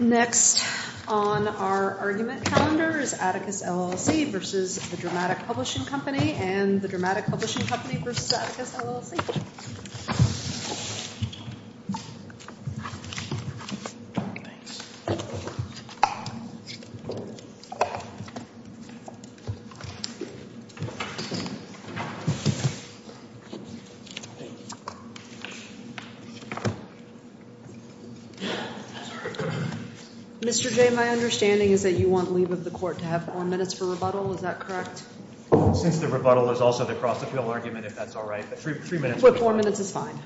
Next on our argument calendar is Atticus LLC v. The Dramatic Publishing Company and the Dramatic Publishing Company v. Atticus LLC. Mr. J., my understanding is that you want leave of the court to have four minutes for rebuttal. Is that correct? Since the rebuttal is also the cross-appeal argument, if that's all right. Three minutes would be fine. Four minutes is fine.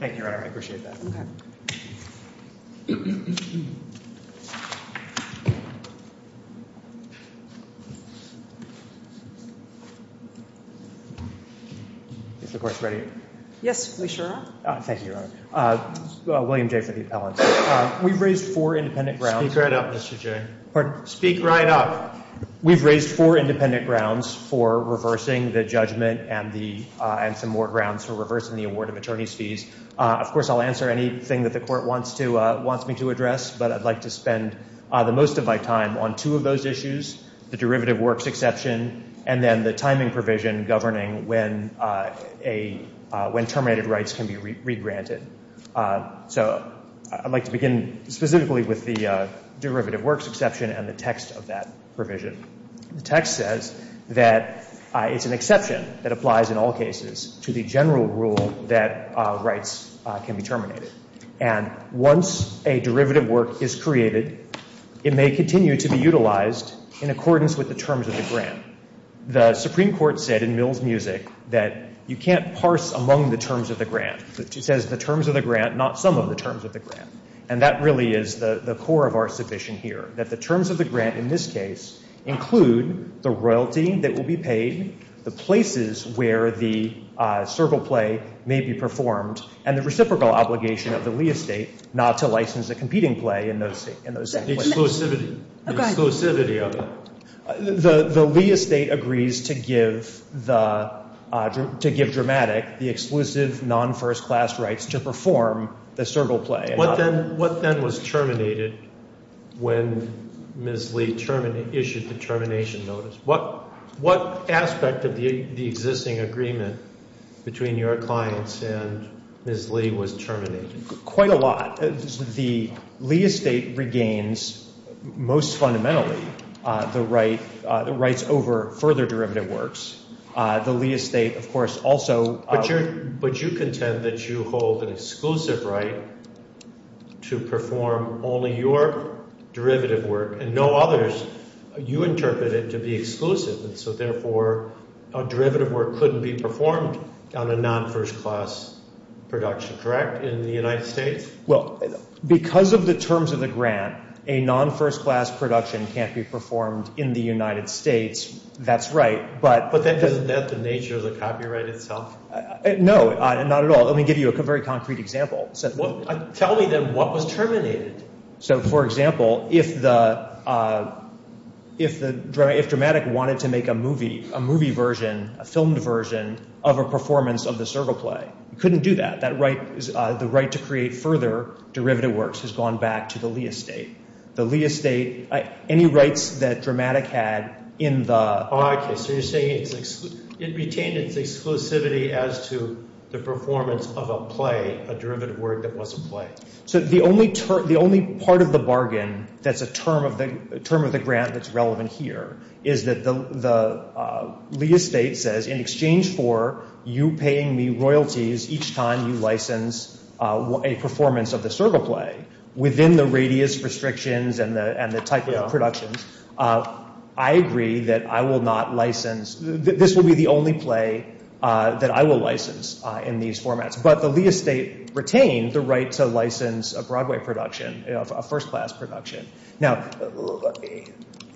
Thank you, Your Honor. I appreciate that. Okay. Is the court ready? Yes, we sure are. Thank you, Your Honor. William J. for the appellant. We've raised four independent grounds. Speak right up, Mr. J. Pardon? Speak right up. We've raised four independent grounds for reversing the judgment and some more grounds for reversing the award of attorney's fees. Of course, I'll answer anything that the court wants me to address, but I'd like to spend the most of my time on two of those issues, the derivative works exception and then the timing provision governing when terminated rights can be regranted. So I'd like to begin specifically with the derivative works exception and the text of that provision. The text says that it's an exception that applies in all cases to the general rule that rights can be terminated. And once a derivative work is created, it may continue to be utilized in accordance with the terms of the grant. The Supreme Court said in Mill's music that you can't parse among the terms of the grant. It says the terms of the grant, not some of the terms of the grant. And that really is the core of our submission here, that the terms of the grant in this case include the royalty that will be paid, the places where the servile play may be performed, and the reciprocal obligation of the Lee estate not to license a competing play in those places. The exclusivity of it. The Lee estate agrees to give Dramatic the exclusive non-first class rights to perform the servile play. What then was terminated when Ms. Lee issued the termination notice? What aspect of the existing agreement between your clients and Ms. Lee was terminated? Quite a lot. The Lee estate regains most fundamentally the rights over further derivative works. The Lee estate, of course, also- But you contend that you hold an exclusive right to perform only your derivative work and no others. You interpret it to be exclusive. And so therefore a derivative work couldn't be performed on a non-first class production, correct, in the United States? Well, because of the terms of the grant, a non-first class production can't be performed in the United States. That's right, but- But isn't that the nature of the copyright itself? No, not at all. Let me give you a very concrete example. Tell me then what was terminated. So, for example, if Dramatic wanted to make a movie version, a filmed version, of a performance of the servile play, it couldn't do that. The right to create further derivative works has gone back to the Lee estate. Any rights that Dramatic had in the- Oh, okay, so you're saying it retained its exclusivity as to the performance of a play, a derivative work that was a play. So the only part of the bargain that's a term of the grant that's relevant here is that the Lee estate says, in exchange for you paying me royalties each time you license a performance of the servile play, within the radius restrictions and the type of productions, I agree that I will not license- this will be the only play that I will license in these formats. But the Lee estate retained the right to license a Broadway production, a first class production. Now,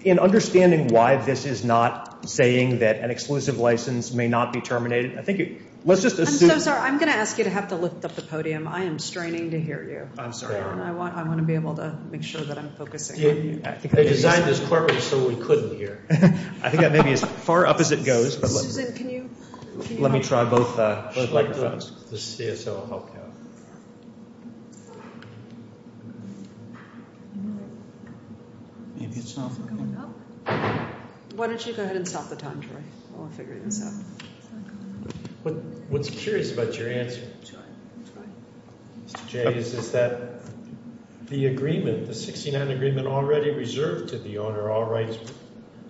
in understanding why this is not saying that an exclusive license may not be terminated, I think- I'm so sorry. I'm going to ask you to have to lift up the podium. I am straining to hear you. I'm sorry. I want to be able to make sure that I'm focusing on you. They designed this courtroom so we couldn't hear. I think that may be as far up as it goes. Susan, can you- Let me try both microphones. The CSO will help you out. Maybe it's not coming up. Why don't you go ahead and stop the time, Troy? I want to figure this out. What's curious about your answer, Mr. Jay, is that the agreement, the 69 agreement already reserved to the owner,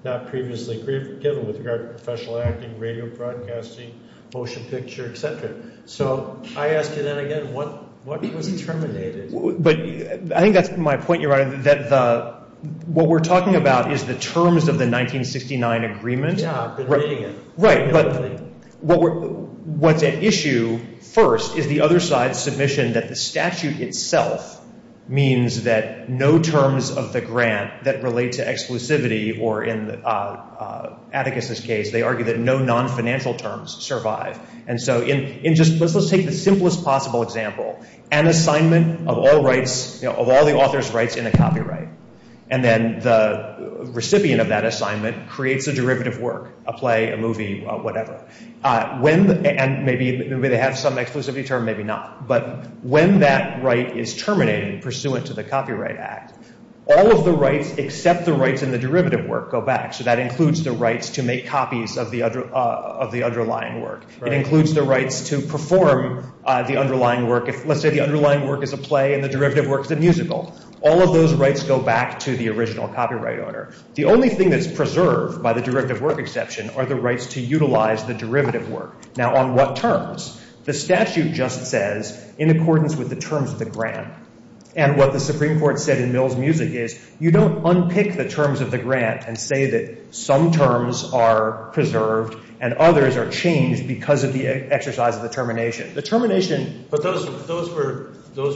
not previously given with regard to professional acting, radio broadcasting, motion picture, etc. So I ask you then again, what was terminated? But I think that's my point, Your Honor, that what we're talking about is the terms of the 1969 agreement. Yeah, I've been reading it. Right, but what's at issue first is the other side's submission that the statute itself means that no terms of the grant that relate to exclusivity or in Atticus's case, they argue that no non-financial terms survive. And so let's take the simplest possible example, an assignment of all the author's rights in a copyright. And then the recipient of that assignment creates a derivative work, a play, a movie, whatever. And maybe they have some exclusivity term, maybe not. But when that right is terminated pursuant to the Copyright Act, all of the rights except the rights in the derivative work go back. So that includes the rights to make copies of the underlying work. It includes the rights to perform the underlying work. Let's say the underlying work is a play and the derivative work is a musical. All of those rights go back to the original copyright owner. The only thing that's preserved by the derivative work exception are the rights to utilize the derivative work. Now, on what terms? The statute just says in accordance with the terms of the grant. And what the Supreme Court said in Mills Music is you don't unpick the terms of the grant and say that some terms are preserved and others are changed because of the exercise of the termination. The termination— But those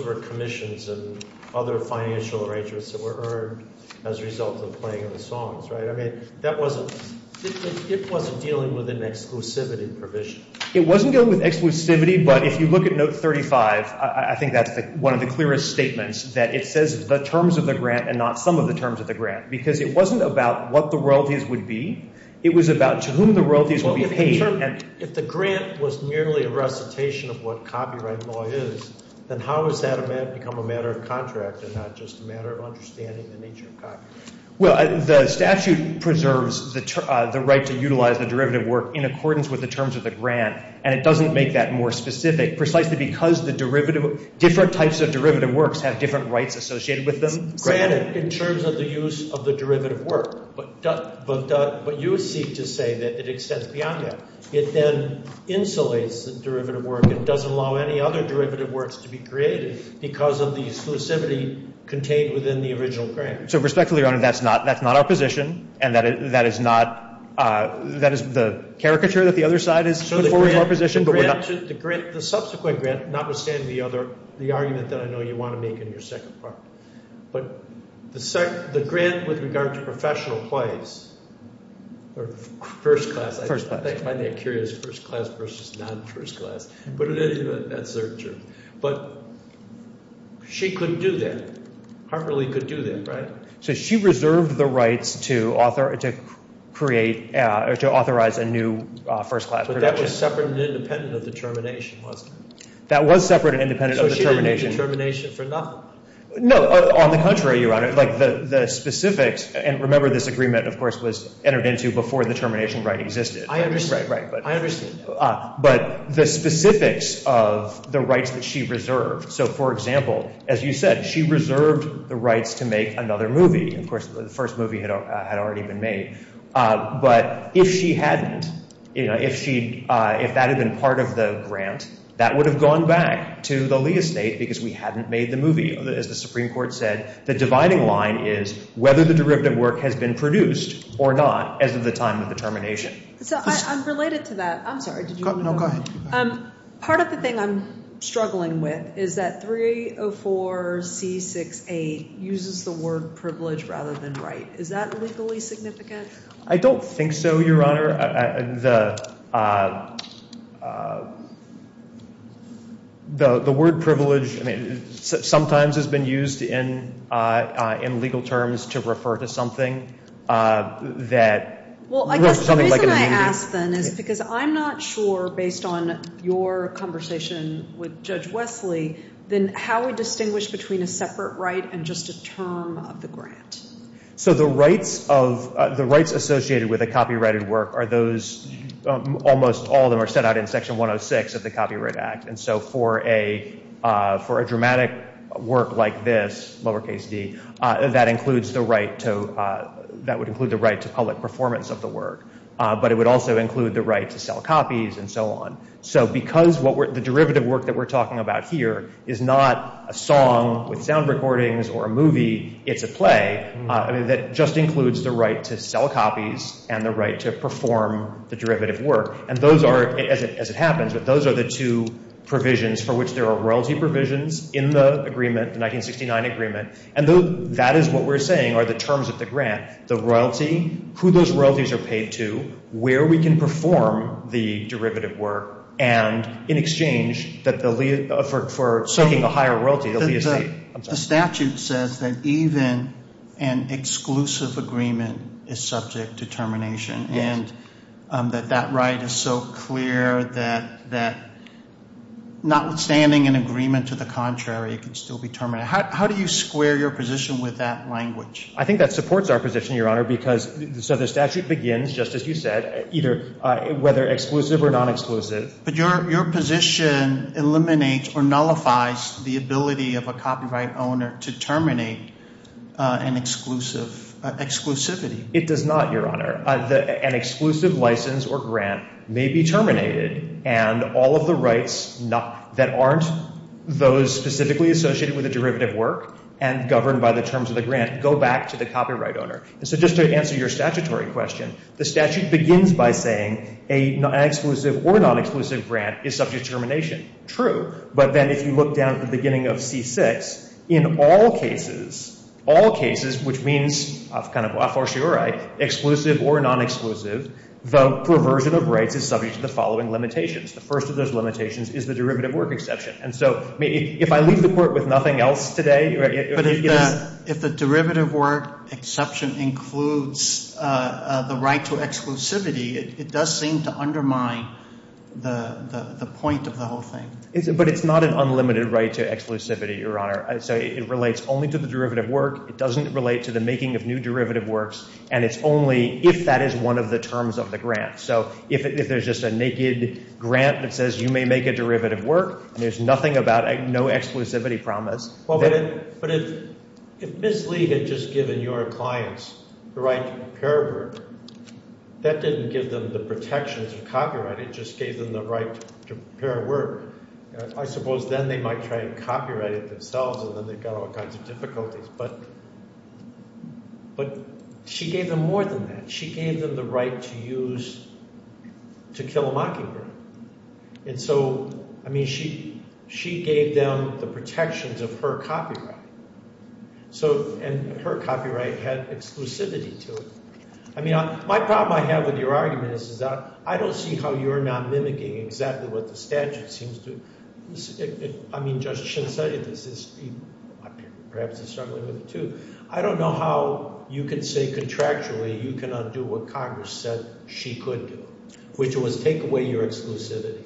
were commissions and other financial arrangements that were earned as a result of the playing of the songs, right? I mean, that wasn't—it wasn't dealing with an exclusivity provision. It wasn't dealing with exclusivity, but if you look at Note 35, I think that's one of the clearest statements, that it says the terms of the grant and not some of the terms of the grant because it wasn't about what the royalties would be. It was about to whom the royalties would be paid. If the grant was merely a recitation of what copyright law is, then how has that become a matter of contract and not just a matter of understanding the nature of copyright? Well, the statute preserves the right to utilize the derivative work in accordance with the terms of the grant, and it doesn't make that more specific precisely because the derivative— different types of derivative works have different rights associated with them. In terms of the use of the derivative work, but you seek to say that it extends beyond that. It then insulates the derivative work. It doesn't allow any other derivative works to be created because of the exclusivity contained within the original grant. So respectfully, Your Honor, that's not our position, and that is not— that is the caricature that the other side has put forward as our position, but we're not— So the grant—the subsequent grant, notwithstanding the argument that I know you want to make in your second part, but the grant with regard to professional plays or first class— First class. I find that curious, first class versus non-first class, but that's their term. But she couldn't do that. Harper Lee could do that, right? So she reserved the rights to create—to authorize a new first class. But that was separate and independent of the termination, wasn't it? That was separate and independent of the termination. So she didn't need the termination for nothing? No. On the contrary, Your Honor, like the specifics— and remember this agreement, of course, was entered into before the termination right existed. I understand. Right, right. I understand. But the specifics of the rights that she reserved—so, for example, as you said, she reserved the rights to make another movie. Of course, the first movie had already been made. But if she hadn't—if that had been part of the grant, that would have gone back to the Lee estate because we hadn't made the movie. As the Supreme Court said, the dividing line is whether the derivative work has been produced or not as of the time of the termination. So I'm related to that. I'm sorry. Did you— No, go ahead. Part of the thing I'm struggling with is that 304C68 uses the word privilege rather than right. Is that legally significant? I don't think so, Your Honor. The word privilege, I mean, sometimes has been used in legal terms to refer to something that— Well, I guess the reason I ask then is because I'm not sure, based on your conversation with Judge Wesley, then how we distinguish between a separate right and just a term of the grant. So the rights associated with a copyrighted work are those—almost all of them are set out in Section 106 of the Copyright Act. And so for a dramatic work like this, lowercase d, that includes the right to— that would include the right to public performance of the work. But it would also include the right to sell copies and so on. So because the derivative work that we're talking about here is not a song with sound recordings or a movie, it's a play, that just includes the right to sell copies and the right to perform the derivative work. And those are, as it happens, but those are the two provisions for which there are royalty provisions in the agreement, the 1969 agreement. And that is what we're saying are the terms of the grant. The royalty, who those royalties are paid to, where we can perform the derivative work, and in exchange for soaking a higher royalty, the lease— The statute says that even an exclusive agreement is subject to termination. Yes. And that that right is so clear that notwithstanding an agreement to the contrary, it can still be terminated. How do you square your position with that language? I think that supports our position, Your Honor, because— so the statute begins, just as you said, either whether exclusive or non-exclusive. But your position eliminates or nullifies the ability of a copyright owner to terminate an exclusivity. It does not, Your Honor. An exclusive license or grant may be terminated, and all of the rights that aren't those specifically associated with the derivative work and governed by the terms of the grant go back to the copyright owner. And so just to answer your statutory question, the statute begins by saying an exclusive or non-exclusive grant is subject to termination. True. But then if you look down at the beginning of C-6, in all cases, all cases, which means kind of a fortiori exclusive or non-exclusive, the perversion of rights is subject to the following limitations. The first of those limitations is the derivative work exception. And so if I leave the Court with nothing else today— But if the derivative work exception includes the right to exclusivity, it does seem to undermine the point of the whole thing. But it's not an unlimited right to exclusivity, Your Honor. So it relates only to the derivative work. It doesn't relate to the making of new derivative works, and it's only if that is one of the terms of the grant. So if there's just a naked grant that says you may make a derivative work, there's nothing about—no exclusivity promise. But if Ms. Lee had just given your clients the right to prepare work, that didn't give them the protections of copyright. It just gave them the right to prepare work. I suppose then they might try to copyright it themselves, and then they've got all kinds of difficulties. But she gave them more than that. She gave them the right to use—to kill a mockingbird. And so, I mean, she gave them the protections of her copyright. And her copyright had exclusivity to it. I mean, my problem I have with your argument is that I don't see how you're not mimicking exactly what the statute seems to— I mean, Judge Shinseides is—perhaps is struggling with it too. I don't know how you can say contractually you cannot do what Congress said she could do, which was take away your exclusivity.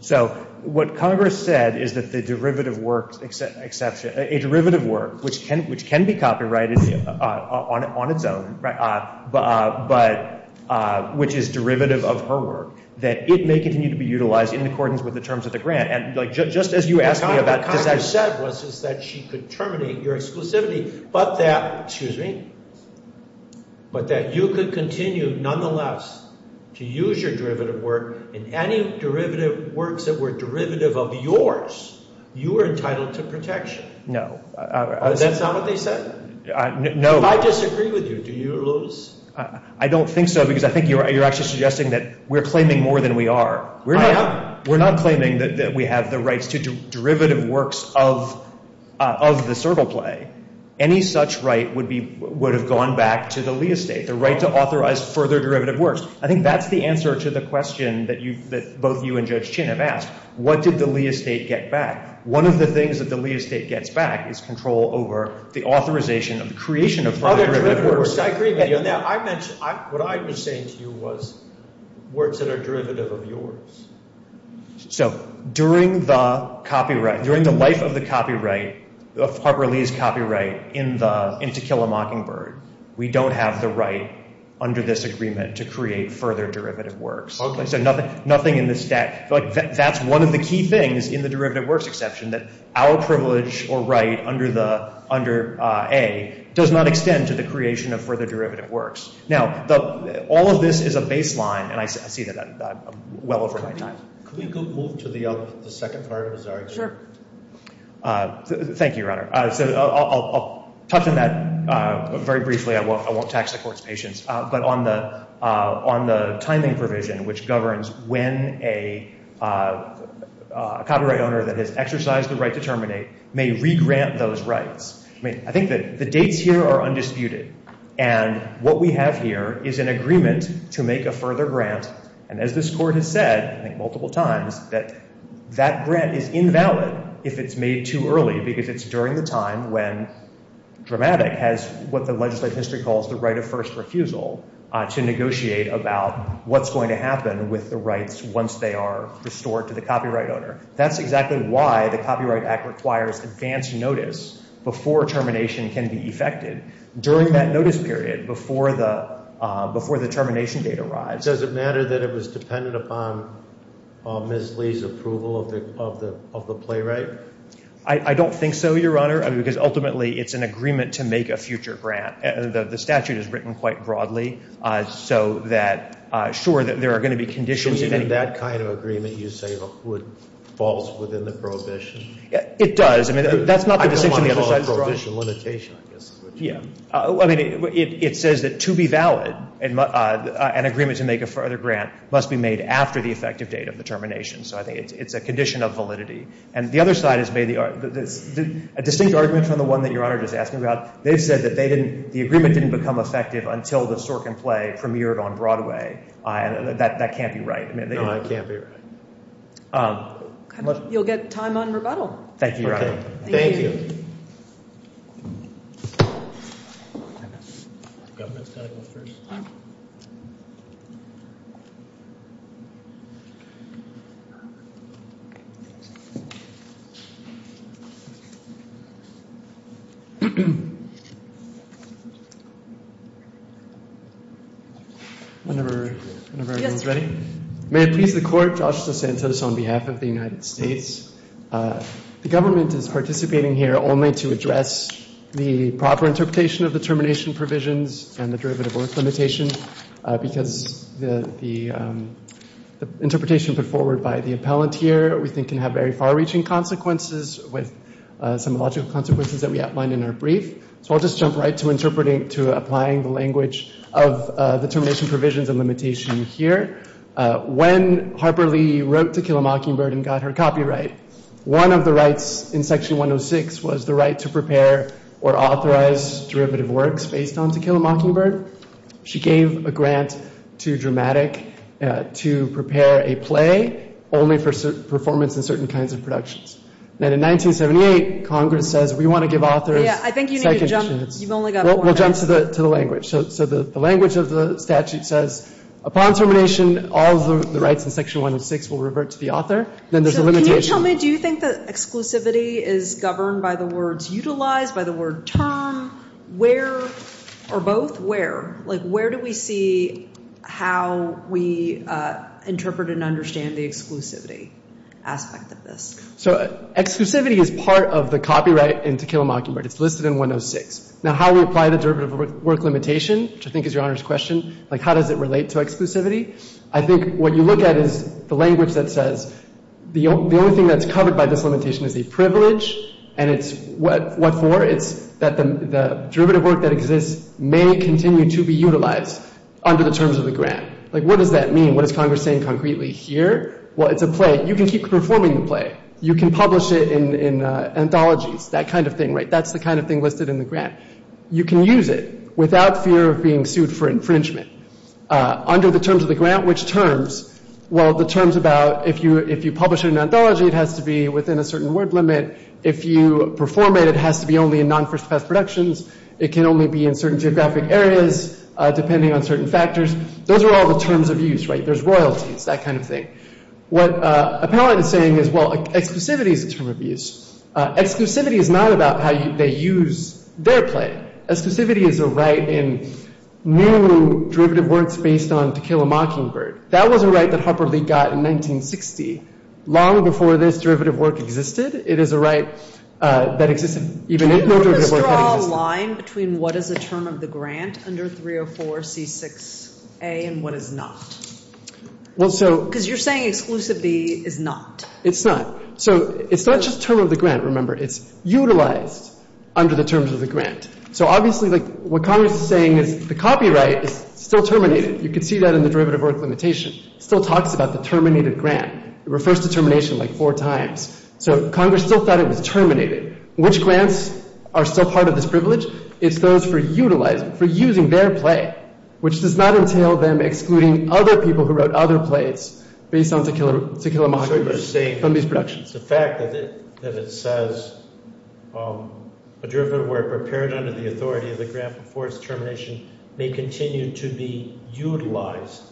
So what Congress said is that the derivative work— a derivative work, which can be copyrighted on its own, but—which is derivative of her work, that it may continue to be utilized in accordance with the terms of the grant. And just as you asked me about— What Congress said was that she could terminate your exclusivity, but that—excuse me— but that you could continue nonetheless to use your derivative work in any derivative works that were derivative of yours. You were entitled to protection. No. That's not what they said? No. If I disagree with you, do you lose? I don't think so, because I think you're actually suggesting that we're claiming more than we are. I am. We're not claiming that we have the rights to derivative works of the servile play. Any such right would be—would have gone back to the Lee estate, the right to authorize further derivative works. I think that's the answer to the question that both you and Judge Shin have asked. What did the Lee estate get back? One of the things that the Lee estate gets back is control over the authorization of the creation of further derivative works. I agree with you on that. I mentioned—what I was saying to you was words that are derivative of yours. So during the copyright—during the life of the copyright, of Harper Lee's copyright in the—in To Kill a Mockingbird, we don't have the right under this agreement to create further derivative works. Okay. So nothing in the statute—like, that's one of the key things in the derivative works exception, that our privilege or right under the—under A does not extend to the creation of further derivative works. Now, all of this is a baseline, and I see that I'm well over my time. Could we move to the second part of his argument? Sure. Thank you, Your Honor. So I'll touch on that very briefly. I won't tax the Court's patience. But on the timing provision, which governs when a copyright owner that has exercised the right to terminate may regrant those rights. I mean, I think that the dates here are undisputed, and what we have here is an agreement to make a further grant, and as this Court has said, I think, multiple times, that that grant is invalid if it's made too early, because it's during the time when Dramatic has what the legislative history calls the right of first refusal to negotiate about what's going to happen with the rights once they are restored to the copyright owner. That's exactly why the Copyright Act requires advance notice before termination can be effected. During that notice period, before the termination date arrives— Does it matter that it was dependent upon Ms. Lee's approval of the playwright? I don't think so, Your Honor, because ultimately it's an agreement to make a future grant. The statute is written quite broadly, so that, sure, there are going to be conditions— So even that kind of agreement, you say, falls within the prohibition? It does. I mean, that's not the decision of the other side. I don't want to call it prohibition limitation, I guess is what you mean. Yeah. I mean, it says that to be valid, an agreement to make a further grant must be made after the effective date of the termination. So I think it's a condition of validity. And the other side has made a distinct argument from the one that Your Honor just asked me about. They've said that the agreement didn't become effective until the Sorkin play premiered on Broadway. That can't be right. No, it can't be right. You'll get time on rebuttal. Thank you, Your Honor. Thank you. Whenever everyone's ready. May it please the Court, Joshua Santos on behalf of the United States. The government is participating here only to address the proper interpretation of the termination provisions and the derivative worth limitation, because the interpretation put forward by the appellant here we think can have very far-reaching consequences with some logical consequences that we outlined in our brief. So I'll just jump right to interpreting, to applying the language of the termination provisions and limitation here. When Harper Lee wrote To Kill a Mockingbird and got her copyright, one of the rights in Section 106 was the right to prepare or authorize derivative works based on To Kill a Mockingbird. She gave a grant to Dramatic to prepare a play only for performance in certain kinds of productions. And in 1978, Congress says we want to give authors second chance. I think you need to jump. You've only got four minutes. We'll jump to the language. So the language of the statute says upon termination, all of the rights in Section 106 will revert to the author. Then there's a limitation. So can you tell me, do you think that exclusivity is governed by the words utilize, by the word term, where, or both where? Like where do we see how we interpret and understand the exclusivity aspect of this? So exclusivity is part of the copyright in To Kill a Mockingbird. It's listed in 106. Now, how we apply the derivative work limitation, which I think is Your Honor's question, like how does it relate to exclusivity? I think what you look at is the language that says the only thing that's covered by this limitation is a privilege, and it's what for? It's that the derivative work that exists may continue to be utilized under the terms of the grant. Like what does that mean? What is Congress saying concretely here? Well, it's a play. You can keep performing the play. You can publish it in anthologies, that kind of thing, right? You can use it without fear of being sued for infringement. Under the terms of the grant, which terms? Well, the terms about if you publish it in anthology, it has to be within a certain word limit. If you perform it, it has to be only in non-first-class productions. It can only be in certain geographic areas depending on certain factors. Those are all the terms of use, right? There's royalties, that kind of thing. What Appellant is saying is, well, exclusivity is a term of use. Exclusivity is not about how they use their play. Exclusivity is a right in new derivative works based on To Kill a Mockingbird. That was a right that Harper Lee got in 1960. Long before this derivative work existed, it is a right that existed even if no derivative work had existed. Can you just draw a line between what is a term of the grant under 304C6A and what is not? Well, so — Because you're saying exclusively is not. It's not. So it's not just term of the grant, remember. It's utilized under the terms of the grant. So obviously what Congress is saying is the copyright is still terminated. You can see that in the derivative work limitation. It still talks about the terminated grant. It refers to termination like four times. So Congress still thought it was terminated. Which grants are still part of this privilege? It's those for utilizing, for using their play, which does not entail them excluding other people who wrote other plays based on To Kill a Mockingbird from these productions. The fact that it says a derivative work prepared under the authority of the grant before its termination may continue to be utilized.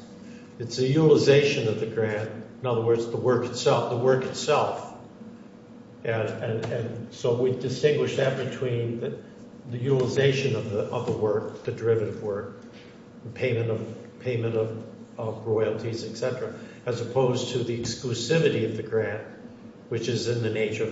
It's a utilization of the grant. In other words, the work itself. The work itself. And so we distinguish that between the utilization of the work, the derivative work, payment of royalties, et cetera, as opposed to the exclusivity of the grant, which is in the nature of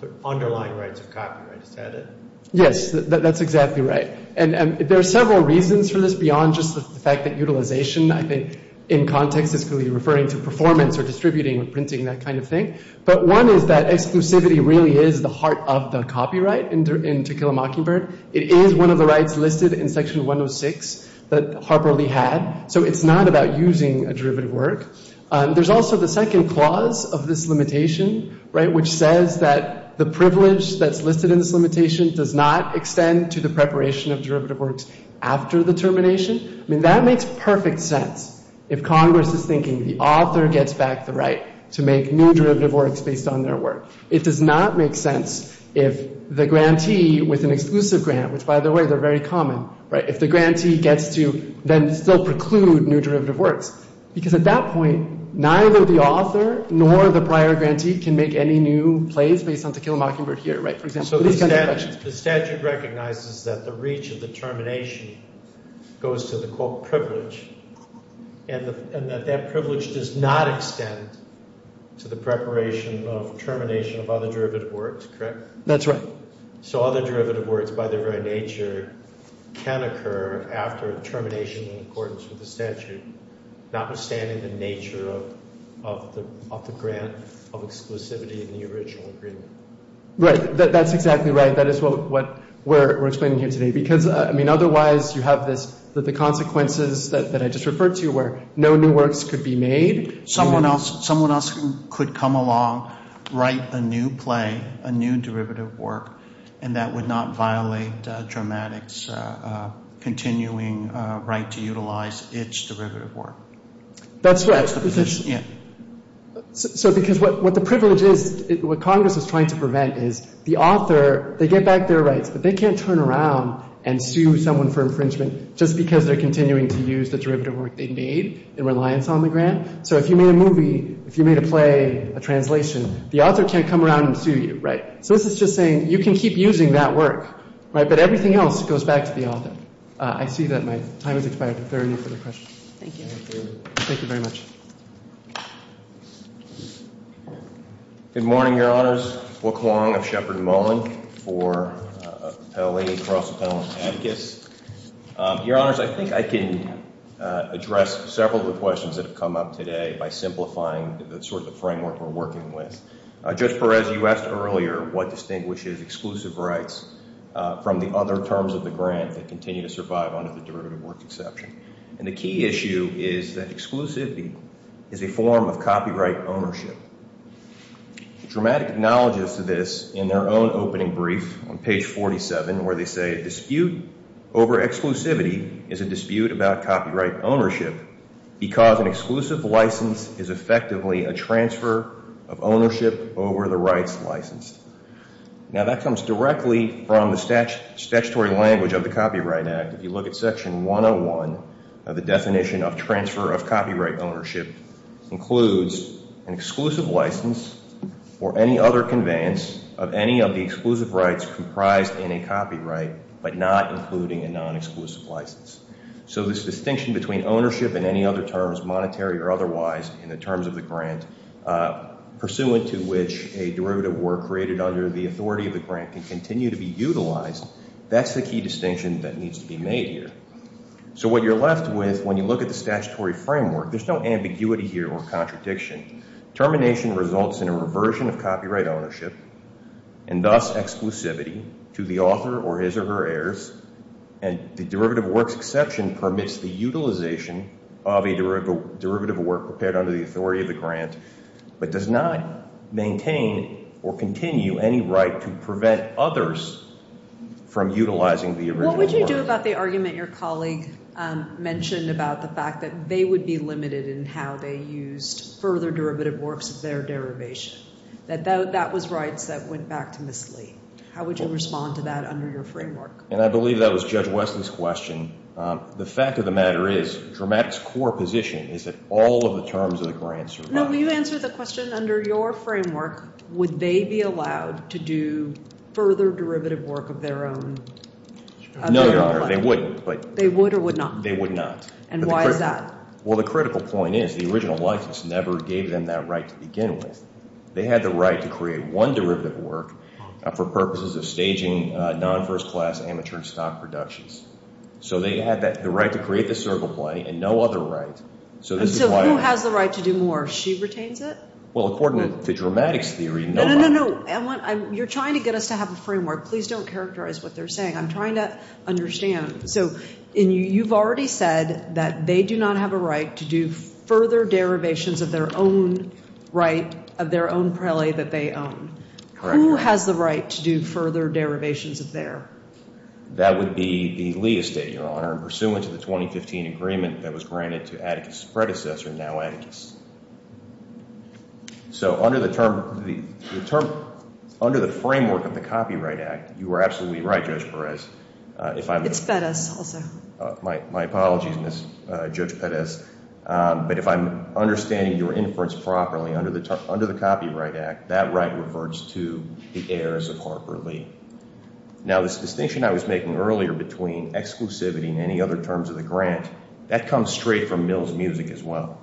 the underlying rights of copyright. Is that it? Yes. That's exactly right. And there are several reasons for this beyond just the fact that utilization, I think, in context is going to be referring to performance or distributing or printing, that kind of thing. But one is that exclusivity really is the heart of the copyright in To Kill a Mockingbird. It is one of the rights listed in Section 106 that Harper Lee had. So it's not about using a derivative work. There's also the second clause of this limitation, right, which says that the privilege that's listed in this limitation does not extend to the preparation of derivative works after the termination. I mean, that makes perfect sense if Congress is thinking the author gets back the right to make new derivative works based on their work. It does not make sense if the grantee with an exclusive grant, which, by the way, they're very common, right, if the grantee gets to then still preclude new derivative works. Because at that point, neither the author nor the prior grantee can make any new plays based on To Kill a Mockingbird here, right, for example. So the statute recognizes that the reach of the termination goes to the, quote, privilege, and that that privilege does not extend to the preparation of termination of other derivative works, correct? That's right. So other derivative works by their very nature can occur after termination in accordance with the statute, notwithstanding the nature of the grant of exclusivity in the original agreement. Right. That's exactly right. That is what we're explaining here today. Because, I mean, otherwise you have this, the consequences that I just referred to where no new works could be made. Someone else could come along, write a new play, a new derivative work, and that would not violate DRAMATIC's continuing right to utilize its derivative work. That's right. That's the position. Yeah. So because what the privilege is, what Congress is trying to prevent is the author, they get back their rights, but they can't turn around and sue someone for infringement just because they're continuing to use the derivative work they made in reliance on the grant. So if you made a movie, if you made a play, a translation, the author can't come around and sue you, right? So this is just saying you can keep using that work, right? But everything else goes back to the author. I see that my time has expired. If there are any further questions. Thank you. Thank you very much. Good morning, Your Honors. Wilk Wong of Sheppard & Mullin for Appellate and Cross Appellant Advocates. Your Honors, I think I can address several of the questions that have come up today by simplifying the sort of framework we're working with. Judge Perez, you asked earlier what distinguishes exclusive rights from the other terms of the grant that continue to survive under the derivative work exception. And the key issue is that exclusivity is a form of copyright ownership. Dramatic acknowledges to this in their own opening brief on page 47 where they say a dispute over exclusivity is a dispute about copyright ownership because an exclusive license is effectively a transfer of ownership over the rights licensed. Now, that comes directly from the statutory language of the Copyright Act. If you look at Section 101, the definition of transfer of copyright ownership includes an exclusive license or any other conveyance of any of the exclusive rights comprised in a copyright but not including a non-exclusive license. So this distinction between ownership and any other terms, monetary or otherwise, in the terms of the grant, pursuant to which a derivative work created under the authority of the grant can continue to be utilized, that's the key distinction that needs to be made here. So what you're left with when you look at the statutory framework, there's no ambiguity here or contradiction. Termination results in a reversion of copyright ownership and thus exclusivity to the author or his or her heirs. And the derivative works exception permits the utilization of a derivative work prepared under the authority of the grant but does not maintain or continue any right to prevent others from utilizing the original work. What would you do about the argument your colleague mentioned about the fact that they would be limited in how they used further derivative works of their derivation, that that was rights that went back to Ms. Lee? How would you respond to that under your framework? And I believe that was Judge Weston's question. The fact of the matter is, Dramatic's core position is that all of the terms of the grant survive. No, but you answered the question under your framework, would they be allowed to do further derivative work of their own? No, Your Honor, they wouldn't. They would or would not? They would not. And why is that? Well, the critical point is the original license never gave them that right to begin with. They had the right to create one derivative work for purposes of staging non-first class amateur stock productions. So they had the right to create the circle play and no other right. So who has the right to do more if she retains it? Well, according to Dramatic's theory, nobody. No, no, no. You're trying to get us to have a framework. Please don't characterize what they're saying. I'm trying to understand. So you've already said that they do not have a right to do further derivations of their own right of their own prelate that they own. Correct. Who has the right to do further derivations of their? That would be the Lee estate, Your Honor, pursuant to the 2015 agreement that was granted to Atticus's predecessor, now Atticus. So under the framework of the Copyright Act, you are absolutely right, Judge Perez. It's Pettis also. My apologies, Judge Pettis. But if I'm understanding your inference properly, under the Copyright Act, that right reverts to the heirs of Harper Lee. Now, this distinction I was making earlier between exclusivity and any other terms of the grant, that comes straight from Mill's music as well.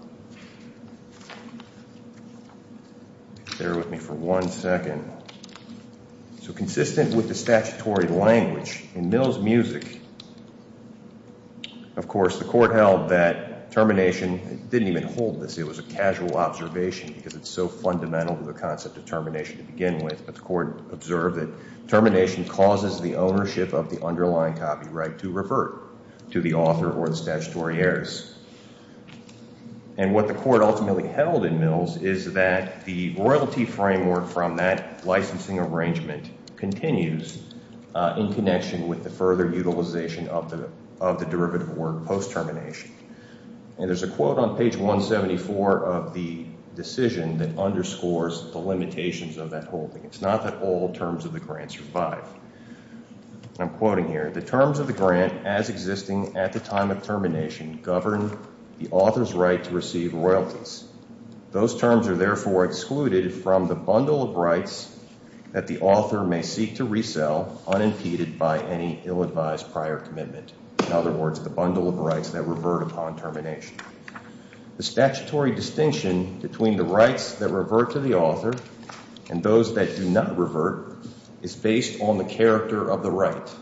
Bear with me for one second. So consistent with the statutory language in Mill's music, of course, the court held that termination didn't even hold this. It was a casual observation because it's so fundamental to the concept of termination to begin with. But the court observed that termination causes the ownership of the underlying copyright to revert to the author or the statutory heirs. And what the court ultimately held in Mill's is that the royalty framework from that licensing arrangement continues in connection with the further utilization of the derivative work post-termination. And there's a quote on page 174 of the decision that underscores the limitations of that holding. It's not that all terms of the grant survive. I'm quoting here. The terms of the grant as existing at the time of termination govern the author's right to receive royalties. Those terms are therefore excluded from the bundle of rights that the author may seek to resell unimpeded by any ill-advised prior commitment. In other words, the bundle of rights that revert upon termination. The statutory distinction between the rights that revert to the author and those that do not revert is based on the character of the right.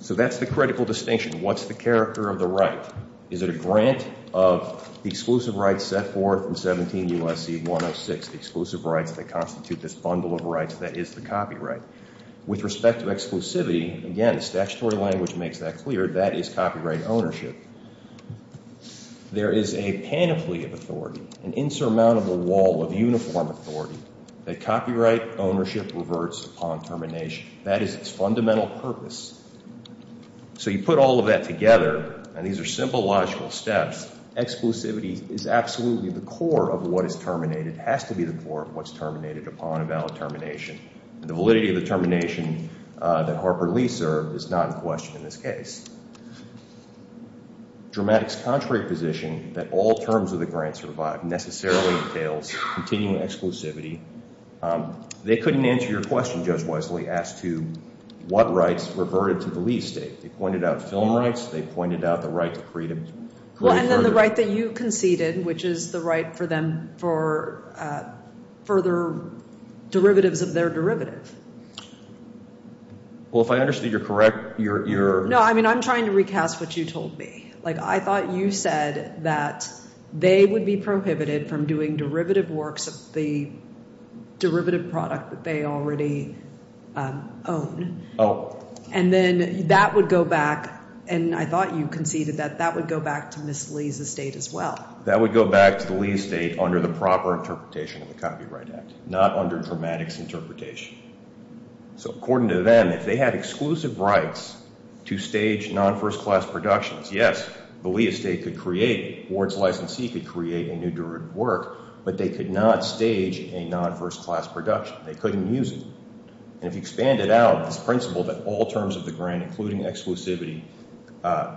So that's the critical distinction. What's the character of the right? Is it a grant of the exclusive rights set forth in 17 U.S.C. 106, the exclusive rights that constitute this bundle of rights that is the copyright? With respect to exclusivity, again, the statutory language makes that clear. That is copyright ownership. There is a panoply of authority, an insurmountable wall of uniform authority that copyright ownership reverts upon termination. That is its fundamental purpose. So you put all of that together, and these are simple logical steps. Exclusivity is absolutely the core of what is terminated, has to be the core of what's terminated upon a valid termination. The validity of the termination that Harper Lee served is not in question in this case. Dramatic's contrary position that all terms of the grant survive necessarily entails continuing exclusivity. They couldn't answer your question, Judge Wesley, as to what rights reverted to the Lee State. They pointed out film rights. They pointed out the right to freedom. Well, and then the right that you conceded, which is the right for them for further derivatives of their derivative. Well, if I understand you're correct, you're— No, I mean, I'm trying to recast what you told me. Like, I thought you said that they would be prohibited from doing derivative works of the derivative product that they already own. Oh. And then that would go back—and I thought you conceded that that would go back to Ms. Lee's estate as well. That would go back to the Lee Estate under the proper interpretation of the Copyright Act, not under Dramatic's interpretation. So according to them, if they had exclusive rights to stage non-first-class productions, yes, the Lee Estate could create— Ward's licensee could create a new derivative work, but they could not stage a non-first-class production. They couldn't use it. And if you expand it out, this principle that all terms of the grant, including exclusivity,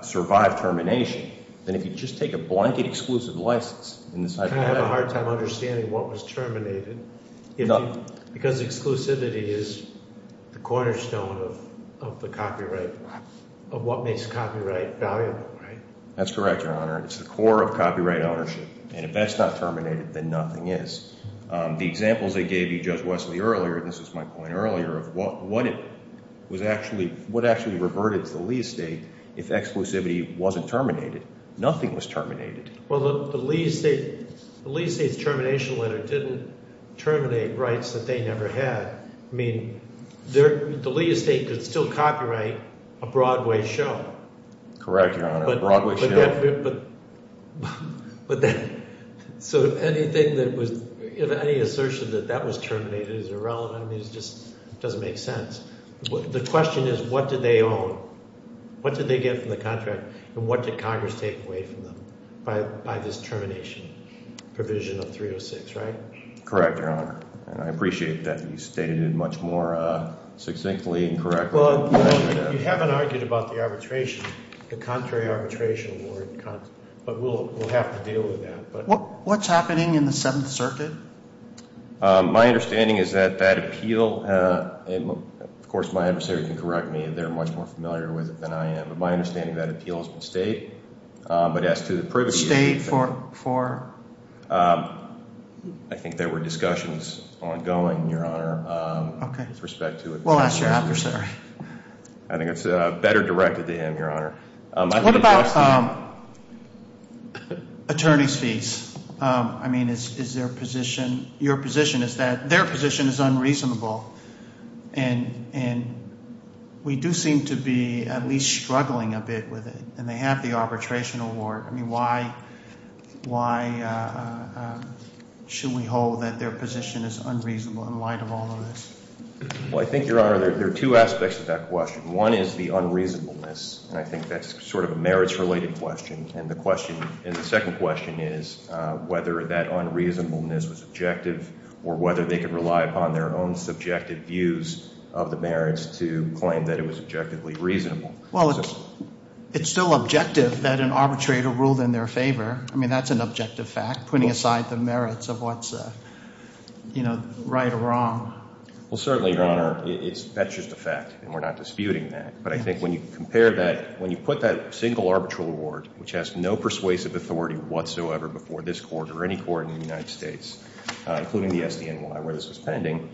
survive termination, then if you just take a blanket exclusive license in this— I kind of have a hard time understanding what was terminated because exclusivity is the cornerstone of the copyright, of what makes copyright valuable, right? That's correct, Your Honor. It's the core of copyright ownership, and if that's not terminated, then nothing is. The examples they gave you, Judge Wesley, earlier—this was my point earlier—of what it was actually—what actually reverted to the Lee Estate if exclusivity wasn't terminated. Nothing was terminated. Well, the Lee Estate—the Lee Estate's termination letter didn't terminate rights that they never had. I mean the Lee Estate could still copyright a Broadway show. Correct, Your Honor. A Broadway show. But then—so if anything that was—if any assertion that that was terminated is irrelevant, I mean it just doesn't make sense. The question is what did they own? What did they get from the contract, and what did Congress take away from them by this termination provision of 306, right? Correct, Your Honor, and I appreciate that you stated it much more succinctly and correctly. You haven't argued about the arbitration, the contrary arbitration. But we'll have to deal with that. What's happening in the Seventh Circuit? My understanding is that that appeal—of course, my adversary can correct me. They're much more familiar with it than I am. But my understanding is that appeal has been stayed, but as to the privilege— Stayed for? I think there were discussions ongoing, Your Honor, with respect to— We'll ask your adversary. I think it's better directed to him, Your Honor. What about attorney's fees? I mean is their position—your position is that their position is unreasonable, and we do seem to be at least struggling a bit with it. And they have the arbitration award. I mean why should we hold that their position is unreasonable in light of all of this? Well, I think, Your Honor, there are two aspects to that question. One is the unreasonableness, and I think that's sort of a merits-related question. And the question—and the second question is whether that unreasonableness was objective or whether they could rely upon their own subjective views of the merits to claim that it was objectively reasonable. Well, it's still objective that an arbitrator ruled in their favor. I mean that's an objective fact, putting aside the merits of what's right or wrong. Well, certainly, Your Honor, that's just a fact, and we're not disputing that. But I think when you compare that—when you put that single arbitral award, which has no persuasive authority whatsoever before this Court or any court in the United States, including the SDNY where this was pending,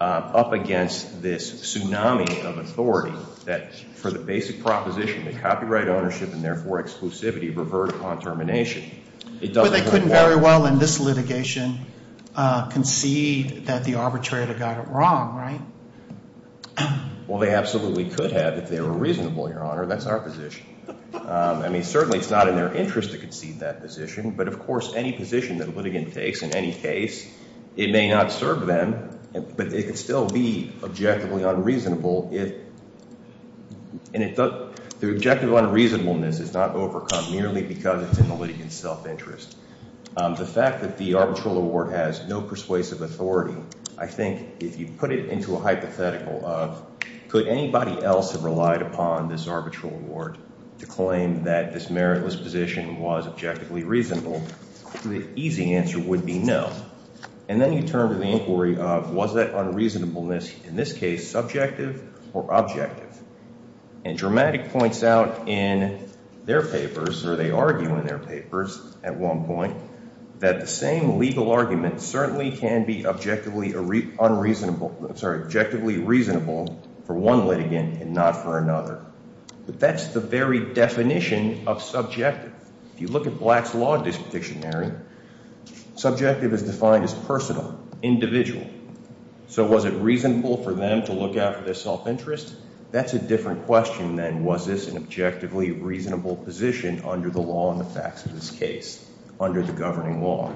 up against this tsunami of authority that for the basic proposition that copyright ownership and therefore exclusivity revert upon termination, it doesn't— So they couldn't very well in this litigation concede that the arbitrator got it wrong, right? Well, they absolutely could have if they were reasonable, Your Honor. That's our position. I mean certainly it's not in their interest to concede that position, but of course any position that a litigant takes in any case, it may not serve them, but it could still be objectively unreasonable if— And the objective unreasonableness is not overcome merely because it's in the litigant's self-interest. The fact that the arbitral award has no persuasive authority, I think if you put it into a hypothetical of could anybody else have relied upon this arbitral award to claim that this meritless position was objectively reasonable, the easy answer would be no. And then you turn to the inquiry of was that unreasonableness in this case subjective or objective? And Dramatic points out in their papers, or they argue in their papers at one point, that the same legal argument certainly can be objectively unreasonable— I'm sorry, objectively reasonable for one litigant and not for another. But that's the very definition of subjective. If you look at Black's Law Dictionary, subjective is defined as personal, individual. So was it reasonable for them to look out for their self-interest? That's a different question than was this an objectively reasonable position under the law and the facts of this case, under the governing law.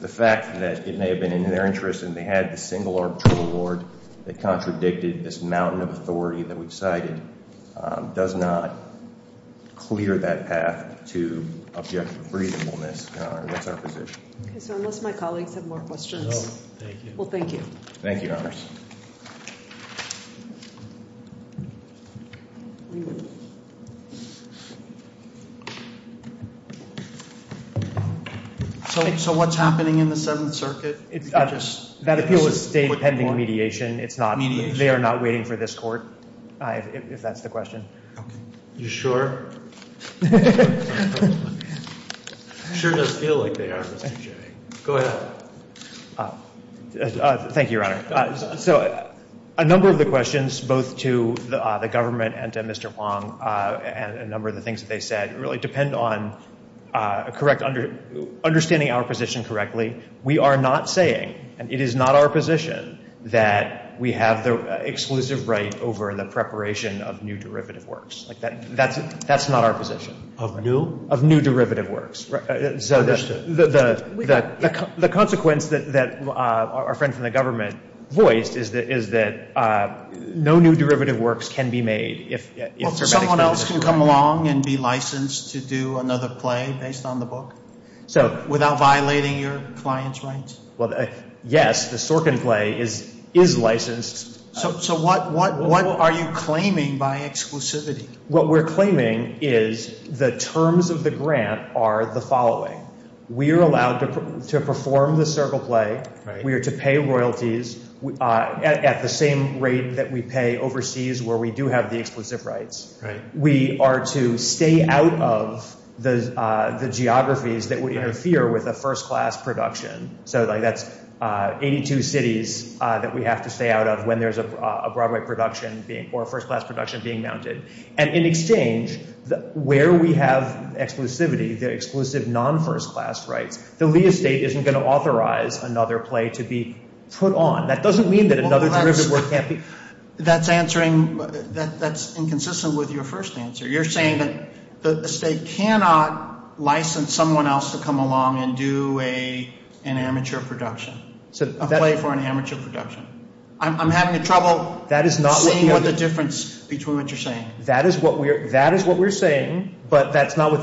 The fact that it may have been in their interest and they had the single arbitral award that contradicted this mountain of authority that we've cited does not clear that path to objective reasonableness, Your Honor. That's our position. Okay, so unless my colleagues have more questions. No, thank you. Well, thank you. Thank you, Your Honors. So what's happening in the Seventh Circuit? That appeal is still pending mediation. Mediation? They are not waiting for this Court, if that's the question. You sure? It sure does feel like they are, Mr. Jay. Go ahead. Thank you, Your Honor. I'm sorry. So a number of the questions both to the government and to Mr. Huang and a number of the things that they said really depend on understanding our position correctly. We are not saying, and it is not our position, that we have the exclusive right over the preparation of new derivative works. That's not our position. Of new? Of new derivative works. The consequence that our friend from the government voiced is that no new derivative works can be made. Someone else can come along and be licensed to do another play based on the book without violating your client's rights? Well, yes, the Sorkin play is licensed. So what are you claiming by exclusivity? What we're claiming is the terms of the grant are the following. We are allowed to perform the Circle play. We are to pay royalties at the same rate that we pay overseas where we do have the exclusive rights. We are to stay out of the geographies that would interfere with a first-class production. So that's 82 cities that we have to stay out of when there's a Broadway production or a first-class production being mounted. And in exchange, where we have exclusivity, the exclusive non-first-class rights, the Lee estate isn't going to authorize another play to be put on. That doesn't mean that another derivative work can't be. That's answering – that's inconsistent with your first answer. You're saying that the estate cannot license someone else to come along and do an amateur production, a play for an amateur production. I'm having trouble seeing what the difference between what you're saying. That is what we're saying, but that's not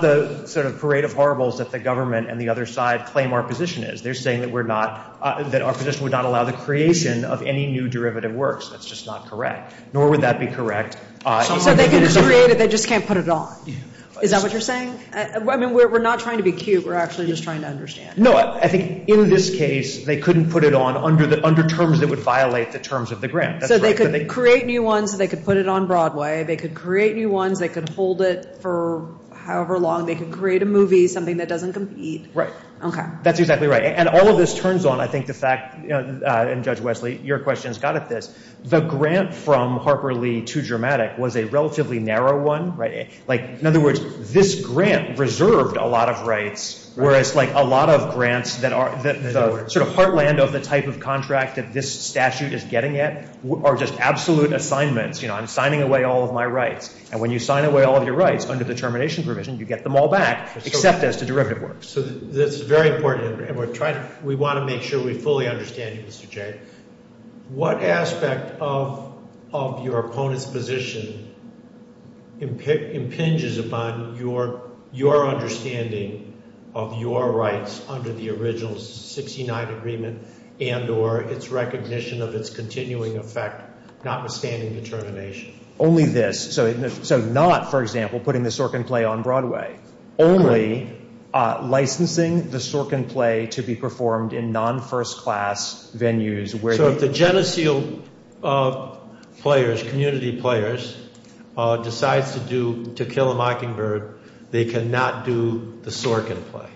the sort of parade of horribles that the government and the other side claim our position is. They're saying that we're not – that our position would not allow the creation of any new derivative works. That's just not correct, nor would that be correct. So they can just create it. They just can't put it on. Is that what you're saying? I mean, we're not trying to be cute. We're actually just trying to understand. No, I think in this case, they couldn't put it on under terms that would violate the terms of the grant. So they could create new ones. They could put it on Broadway. They could create new ones. They could hold it for however long. They could create a movie, something that doesn't compete. Right. Okay. That's exactly right. And all of this turns on, I think, the fact – and Judge Wesley, your question's got at this. The grant from Harper Lee to Germatic was a relatively narrow one. Like, in other words, this grant reserved a lot of rights, whereas, like, a lot of grants that are – the sort of heartland of the type of contract that this statute is getting at are just absolute assignments. You know, I'm signing away all of my rights. And when you sign away all of your rights under the termination provision, you get them all back except as to derivative works. So that's very important. And we're trying – we want to make sure we fully understand you, Mr. Jay. What aspect of your opponent's position impinges upon your understanding of your rights under the original 69 agreement and or its recognition of its continuing effect notwithstanding the termination? Only this. So not, for example, putting the Sorkin play on Broadway. Only licensing the Sorkin play to be performed in non-first-class venues where – So if the Geneseo players, community players, decides to do – to kill a mockingbird, they cannot do the Sorkin play.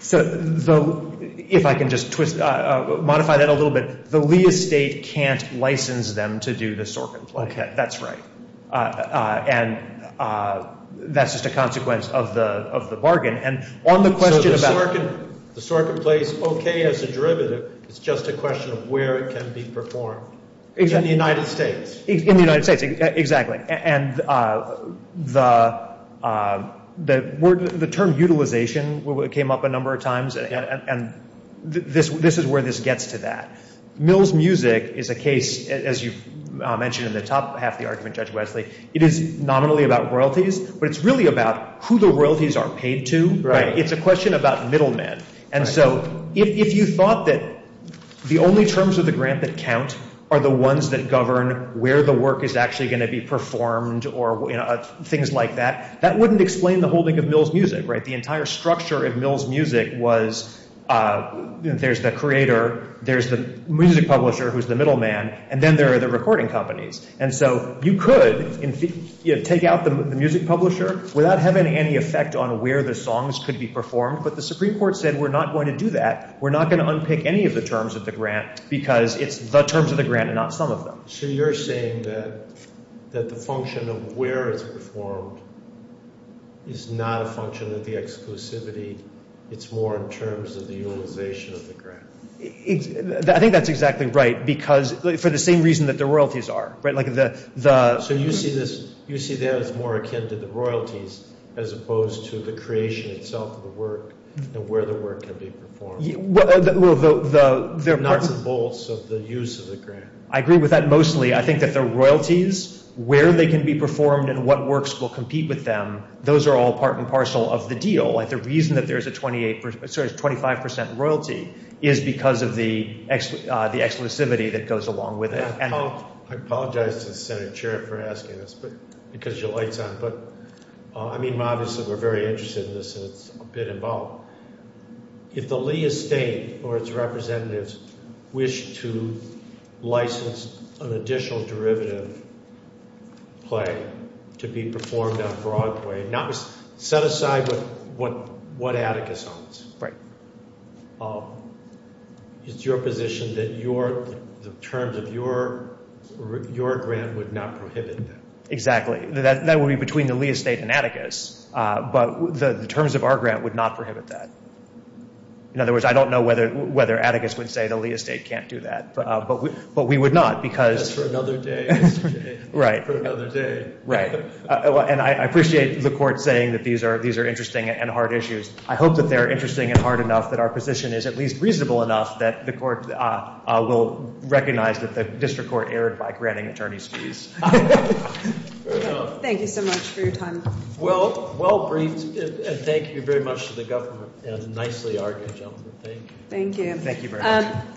So if I can just modify that a little bit, the Lee estate can't license them to do the Sorkin play. Okay. That's right. And that's just a consequence of the bargain. And on the question about – So the Sorkin play is okay as a derivative. It's just a question of where it can be performed. In the United States. In the United States, exactly. And the term utilization came up a number of times, and this is where this gets to that. Mill's music is a case, as you mentioned in the top half of the argument, Judge Wesley, it is nominally about royalties, but it's really about who the royalties are paid to. It's a question about middlemen. And so if you thought that the only terms of the grant that count are the ones that govern where the work is actually going to be performed or things like that, that wouldn't explain the holding of Mill's music. The entire structure of Mill's music was there's the creator, there's the music publisher who's the middleman, and then there are the recording companies. And so you could take out the music publisher without having any effect on where the songs could be performed, but the Supreme Court said we're not going to do that. We're not going to unpick any of the terms of the grant because it's the terms of the grant and not some of them. So you're saying that the function of where it's performed is not a function of the exclusivity. It's more in terms of the utilization of the grant. I think that's exactly right because for the same reason that the royalties are. So you see that as more akin to the royalties as opposed to the creation itself of the work and where the work can be performed. The nuts and bolts of the use of the grant. I agree with that mostly. I think that the royalties, where they can be performed and what works will compete with them, those are all part and parcel of the deal. The reason that there's a 25 percent royalty is because of the exclusivity that goes along with it. I apologize to the Senate chair for asking this because your light's on, but I mean obviously we're very interested in this and it's a bit involved. If the Lee estate or its representatives wish to license an additional derivative play to be performed on Broadway, set aside what Atticus owns. It's your position that the terms of your grant would not prohibit that. Exactly. That would be between the Lee estate and Atticus, but the terms of our grant would not prohibit that. In other words, I don't know whether Atticus would say the Lee estate can't do that, but we would not because. That's for another day. Right. For another day. Right. And I appreciate the court saying that these are interesting and hard issues. I hope that they're interesting and hard enough that our position is at least reasonable enough that the court will recognize that the district court erred by granting attorneys fees. Thank you so much for your time. Well, well briefed. Thank you very much to the government and nicely argued, gentlemen. Thank you. Thank you.